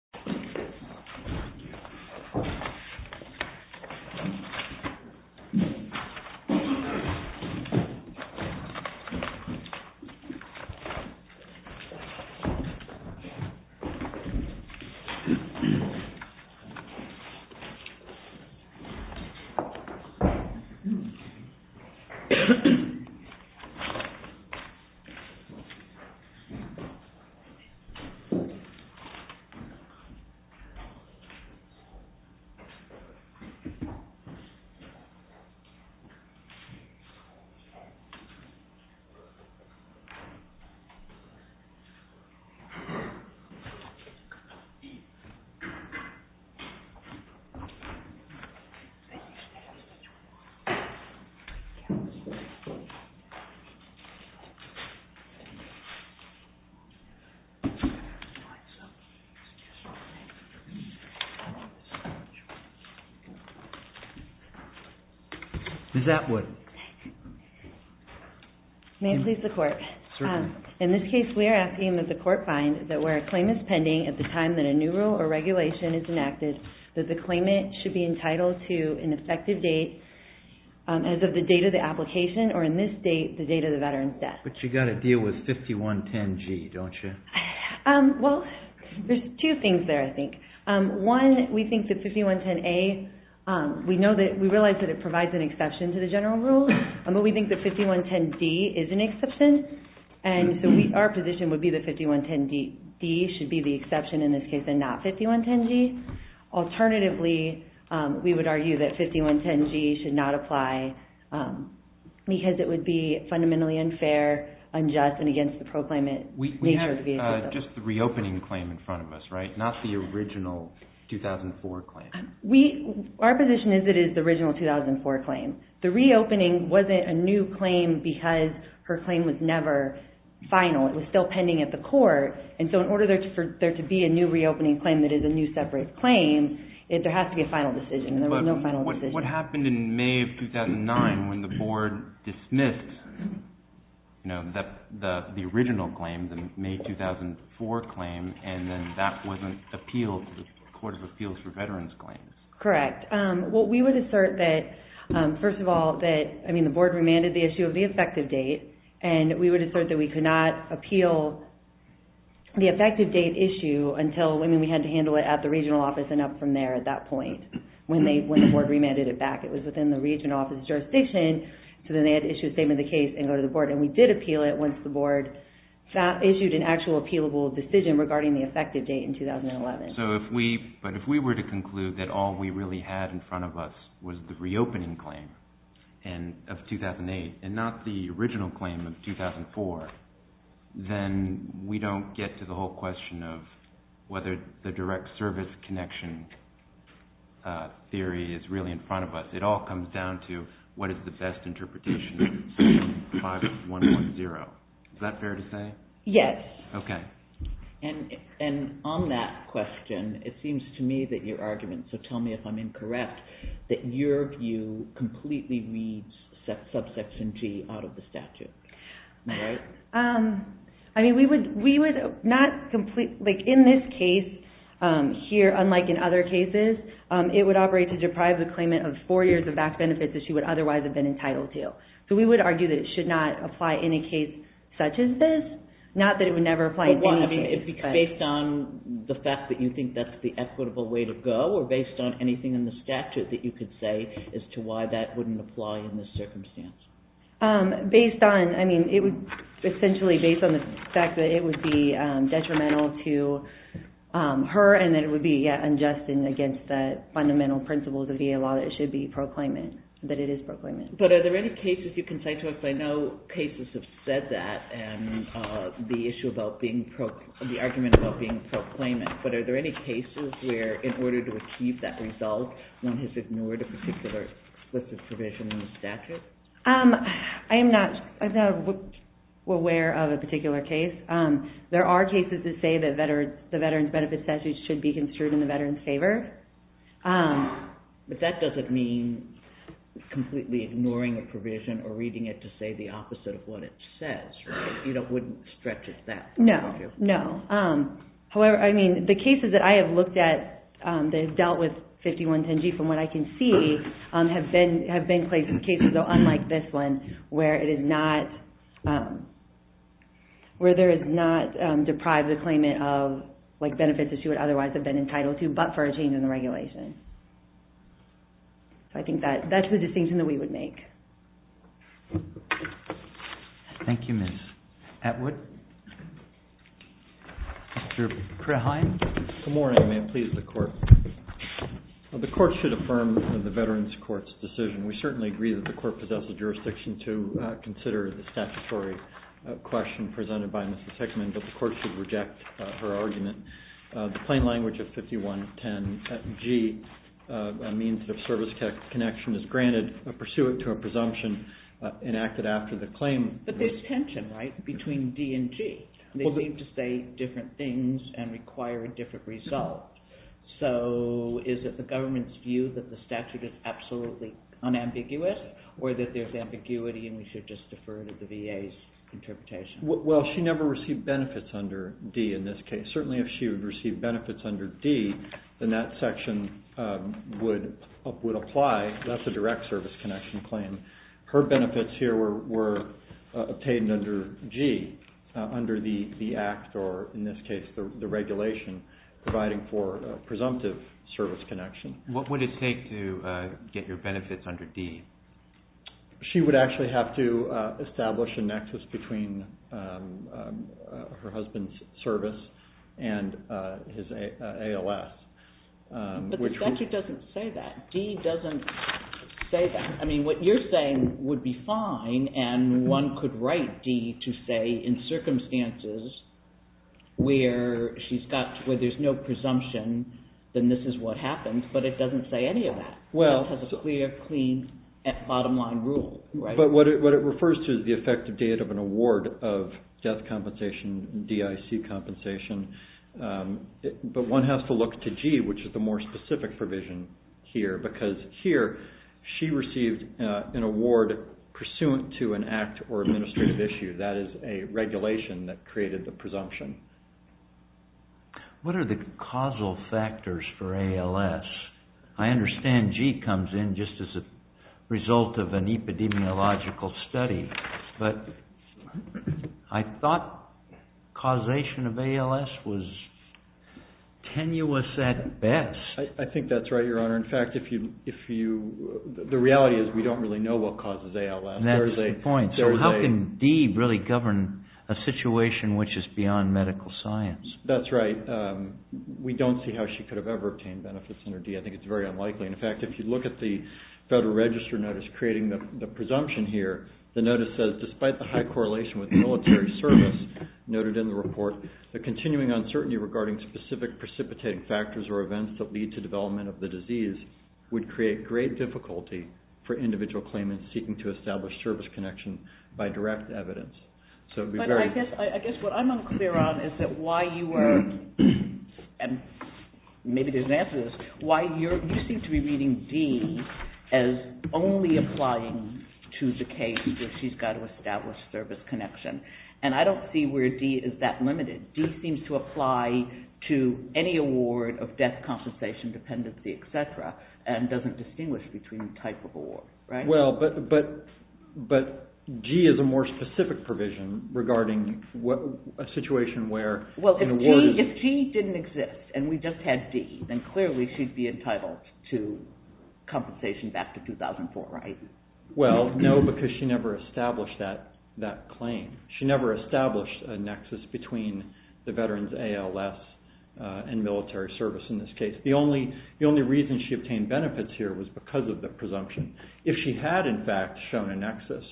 Shinseki v. Shinseki May it please the court. In this case, we are asking that the court find that where a claim is pending at the time that a new rule or regulation is enacted, that the claimant should be entitled to an effective date as of the date of the application or in this date, the date of the veteran's death. But you've got to deal with 5110G, don't you? Well, there's two things there, I think. One, we think that 5110A, we realize that it provides an exception to the general rule, but we think that 5110D is an exception. And so our position would be that 5110D should be the exception in this case and not 5110G. Alternatively, we would argue that 5110G should not apply because it would be fundamentally unfair, unjust, and against the proclaimant nature of the agreement. Just the reopening claim in front of us, right? Not the original 2004 claim. Our position is that it is the original 2004 claim. The reopening wasn't a new claim because her claim was never final. It was still pending at the court. And so in order for there to be a new reopening claim that is a new separate claim, there has to be a final decision. But what happened in May of 2009 when the board dismissed the original claim, the May 2004 claim, and then that wasn't appealed to the Court of Appeals for Veterans Claims? Correct. Well, we would assert that, first of all, that, I mean, the board remanded the issue of the effective date, and we would assert that we could not appeal the effective date issue until, I mean, we had to handle it at the regional office and up from there at that point when the board remanded it back. It was within the regional office jurisdiction, so then they had to issue a statement of the case and go to the board. And we did appeal it once the board issued an actual appealable decision regarding the effective date in 2011. But if we were to conclude that all we really had in front of us was the reopening claim of 2008 and not the original claim of 2004, then we don't get to the whole question of whether the direct service connection theory is really in front of us. It all comes down to what is the best interpretation of Section 5110. Is that fair to say? Yes. Okay. And on that question, it seems to me that your argument, so tell me if I'm incorrect, that your view completely reads subsection G out of the statute. Am I right? I mean, we would not completely, like in this case here, unlike in other cases, it would operate to deprive the claimant of four years of back benefits that she would otherwise have been entitled to. So we would argue that it should not apply in a case such as this, not that it would never apply in any case. Based on the fact that you think that's the equitable way to go or based on anything in the statute that you could say as to why that wouldn't apply in this circumstance? Based on, I mean, it would essentially, based on the fact that it would be detrimental to her and that it would be unjust and against the fundamental principles of VA law, that it should be proclaimant, that it is proclaimant. But are there any cases you can cite to us? I know cases have said that and the issue about being, the argument about being proclaimant, but are there any cases where in order to achieve that result, one has ignored a particular explicit provision in the statute? I am not aware of a particular case. There are cases that say that the veteran's benefit statute should be construed in the veteran's favor. But that doesn't mean completely ignoring a provision or reading it to say the opposite of what it says, right? You wouldn't stretch it that far, would you? No. However, I mean, the cases that I have looked at that have dealt with 5110G, from what I can see, have been cases, though, unlike this one, where it is not, where there is not deprived of claimant of benefits that she would otherwise have been entitled to, but for a change in the regulation. So I think that's the distinction that we would make. Thank you, Ms. Atwood. Mr. Kraheim? Good morning. May it please the Court? The Court should affirm the Veterans Court's decision. We certainly agree that the Court possesses jurisdiction to consider the statutory question presented by Mrs. Hickman, but the Court should reject her argument. The plain language of 5110G, a means of service connection, is granted pursuant to a presumption enacted after the claim. But there is tension, right, between D and G. They seem to say different things and require a different result. So is it the government's view that the statute is absolutely unambiguous, or that there is ambiguity and we should just defer to the VA's interpretation? Well, she never received benefits under D in this case. Certainly if she would receive benefits under D, then that section would apply. That's a direct service connection claim. Her benefits here were obtained under G, under the Act, or in this case, the regulation, providing for a presumptive service connection. What would it take to get your benefits under D? She would actually have to establish a nexus between her husband's service and his ALS. But the statute doesn't say that. D doesn't say that. I mean, what you're saying would be fine, and one could write D to say, in circumstances where there's no presumption, then this is what happens, but it doesn't say any of that. It has a clear, clean, bottom-line rule. But what it refers to is the effective date of an award of death compensation, DIC compensation. But one has to look to G, which is the more specific provision here, because here, she received an award pursuant to an Act or administrative issue. That is a regulation that created the presumption. What are the causal factors for ALS? I understand G comes in just as a result of an epidemiological study, but I thought causation of ALS was tenuous at best. I think that's right, Your Honor. In fact, the reality is we don't really know what causes ALS. That's the point. So how can D really govern a situation which is beyond medical science? That's right. We don't see how she could have ever obtained benefits under D. I think it's very unlikely. In fact, if you look at the Federal Register notice creating the presumption here, the notice says, despite the high correlation with military service noted in the report, the continuing uncertainty regarding specific precipitating factors or events that lead to development of the disease would create great difficulty for individual claimants seeking to establish service connection by direct evidence. But I guess what I'm unclear on is that why you are, and maybe there's an answer to this, why you seem to be reading D as only applying to the case where she's got to establish service connection. And I don't see where D is that limited. D seems to apply to any award of death, compensation, dependency, etc., and doesn't distinguish between the type of award. Well, but G is a more specific provision regarding a situation where an award… Well, if G didn't exist and we just had D, then clearly she'd be entitled to compensation back to 2004, right? Well, no, because she never established that claim. She never established a nexus between the veterans' ALS and military service in this case. The only reason she obtained benefits here was because of the presumption. If she had, in fact, shown a nexus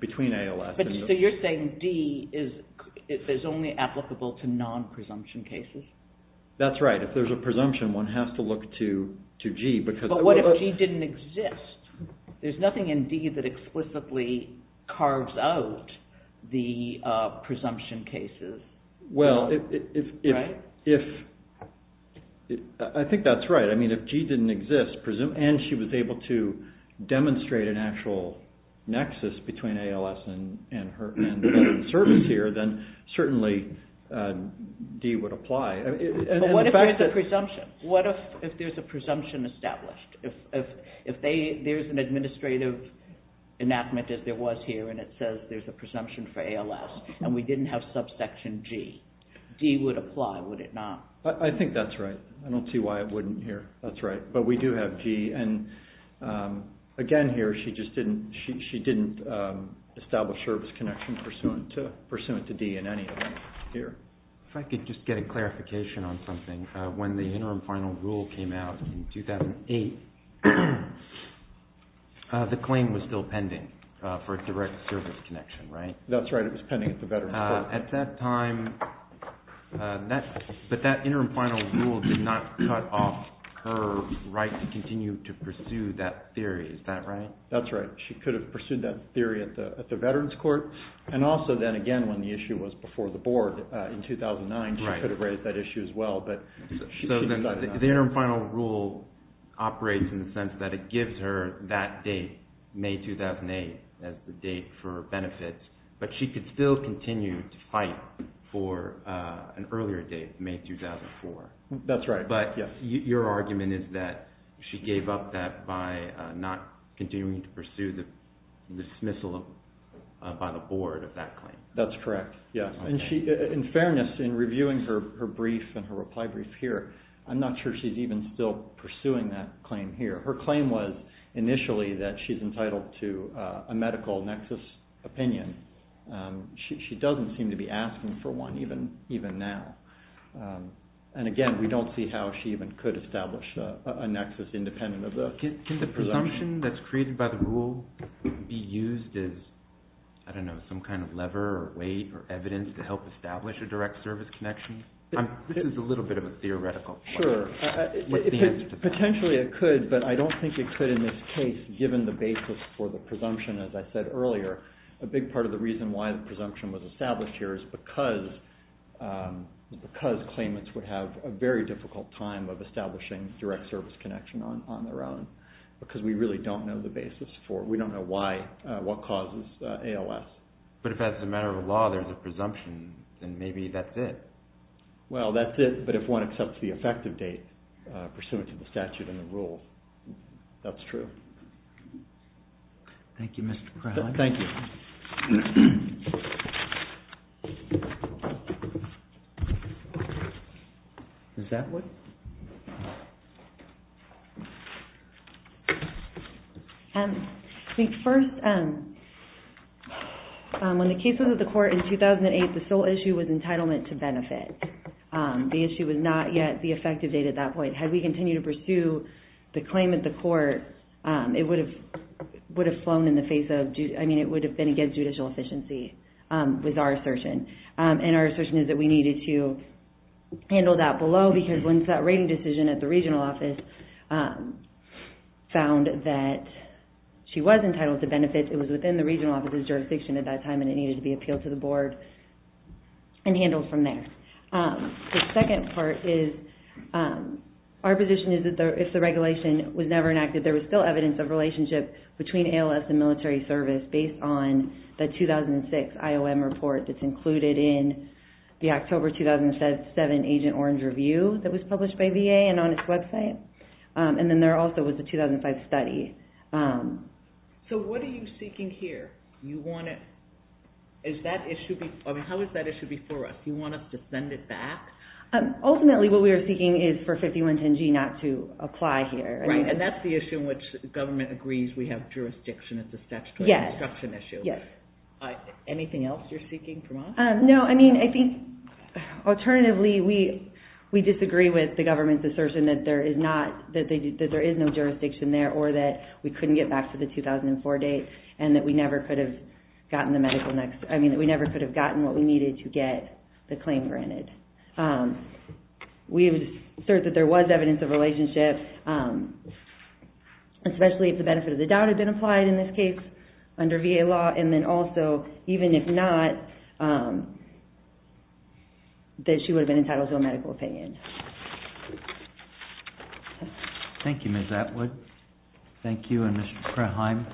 between ALS… So you're saying D is only applicable to non-presumption cases? That's right. If there's a presumption, one has to look to G because… But if G didn't exist, there's nothing in D that explicitly carves out the presumption cases, right? Well, I think that's right. I mean, if G didn't exist and she was able to demonstrate an actual nexus between ALS and service here, then certainly D would apply. But what if there's a presumption? What if there's a presumption established? If there's an administrative enactment, as there was here, and it says there's a presumption for ALS, and we didn't have subsection G, D would apply, would it not? I think that's right. I don't see why it wouldn't here. That's right. But we do have G, and again here, she just didn't establish service connection pursuant to D in any event here. If I could just get a clarification on something, when the interim final rule came out in 2008, the claim was still pending for a direct service connection, right? That's right. It was pending at the Veterans Court. At that time, but that interim final rule did not cut off her right to continue to pursue that theory, is that right? That's right. She could have pursued that theory at the Veterans Court, and also then again when the issue was before the board in 2009, she could have raised that issue as well. So the interim final rule operates in the sense that it gives her that date, May 2008, as the date for benefits, but she could still continue to fight for an earlier date, May 2004. That's right. But your argument is that she gave up that by not continuing to pursue the dismissal by the board of that claim. That's correct. In fairness, in reviewing her brief and her reply brief here, I'm not sure she's even still pursuing that claim here. Her claim was initially that she's entitled to a medical nexus opinion. She doesn't seem to be asking for one even now. And again, we don't see how she even could establish a nexus independent of the presumption. Can the presumption that's created by the rule be used as, I don't know, some kind of lever or weight or evidence to help establish a direct service connection? This is a little bit of a theoretical point. Sure. Potentially it could, but I don't think it could in this case given the basis for the presumption, as I said earlier. A big part of the reason why the presumption was established here is because claimants would have a very difficult time of establishing direct service connection on their own because we really don't know the basis for it. We don't know what causes ALS. But if as a matter of law there's a presumption, then maybe that's it. Well, that's it. But if one accepts the effective date pursuant to the statute and the rule, that's true. Thank you, Mr. Crowley. Thank you. Ms. Atwood? I think first, when the case was at the court in 2008, the sole issue was entitlement to benefit. The issue was not yet the effective date at that point. Had we continued to pursue the claim at the court, it would have flown in the face of, I mean, it would have been against judicial efficiency with our assertion. And our assertion is that we needed to handle that below because once that rating decision at the regional office found that she was entitled to benefits, it was within the regional office's jurisdiction at that time and it needed to be appealed to the board and handled from there. The second part is, our position is that if the regulation was never enacted, there was still evidence of relationship between ALS and military service based on the 2006 IOM report that's included in the October 2007 Agent Orange review that was published by VA and on its website. And then there also was the 2005 study. So what are you seeking here? Is that issue, I mean, how is that issue before us? Do you want us to send it back? Ultimately, what we are seeking is for 5110G not to apply here. Right, and that's the issue in which the government agrees we have jurisdiction. It's a statutory obstruction issue. Yes. Anything else you're seeking from us? No, I mean, I think alternatively we disagree with the government's assertion that there is no jurisdiction there or that we couldn't get back to the 2004 date and that we never could have gotten what we needed to get the claim granted. We assert that there was evidence of relationship, especially if the benefit of the doubt had been applied in this case under VA law. And then also, even if not, that she would have been entitled to a medical opinion. Thank you, Ms. Atwood. Thank you, and Mr. Kraheim.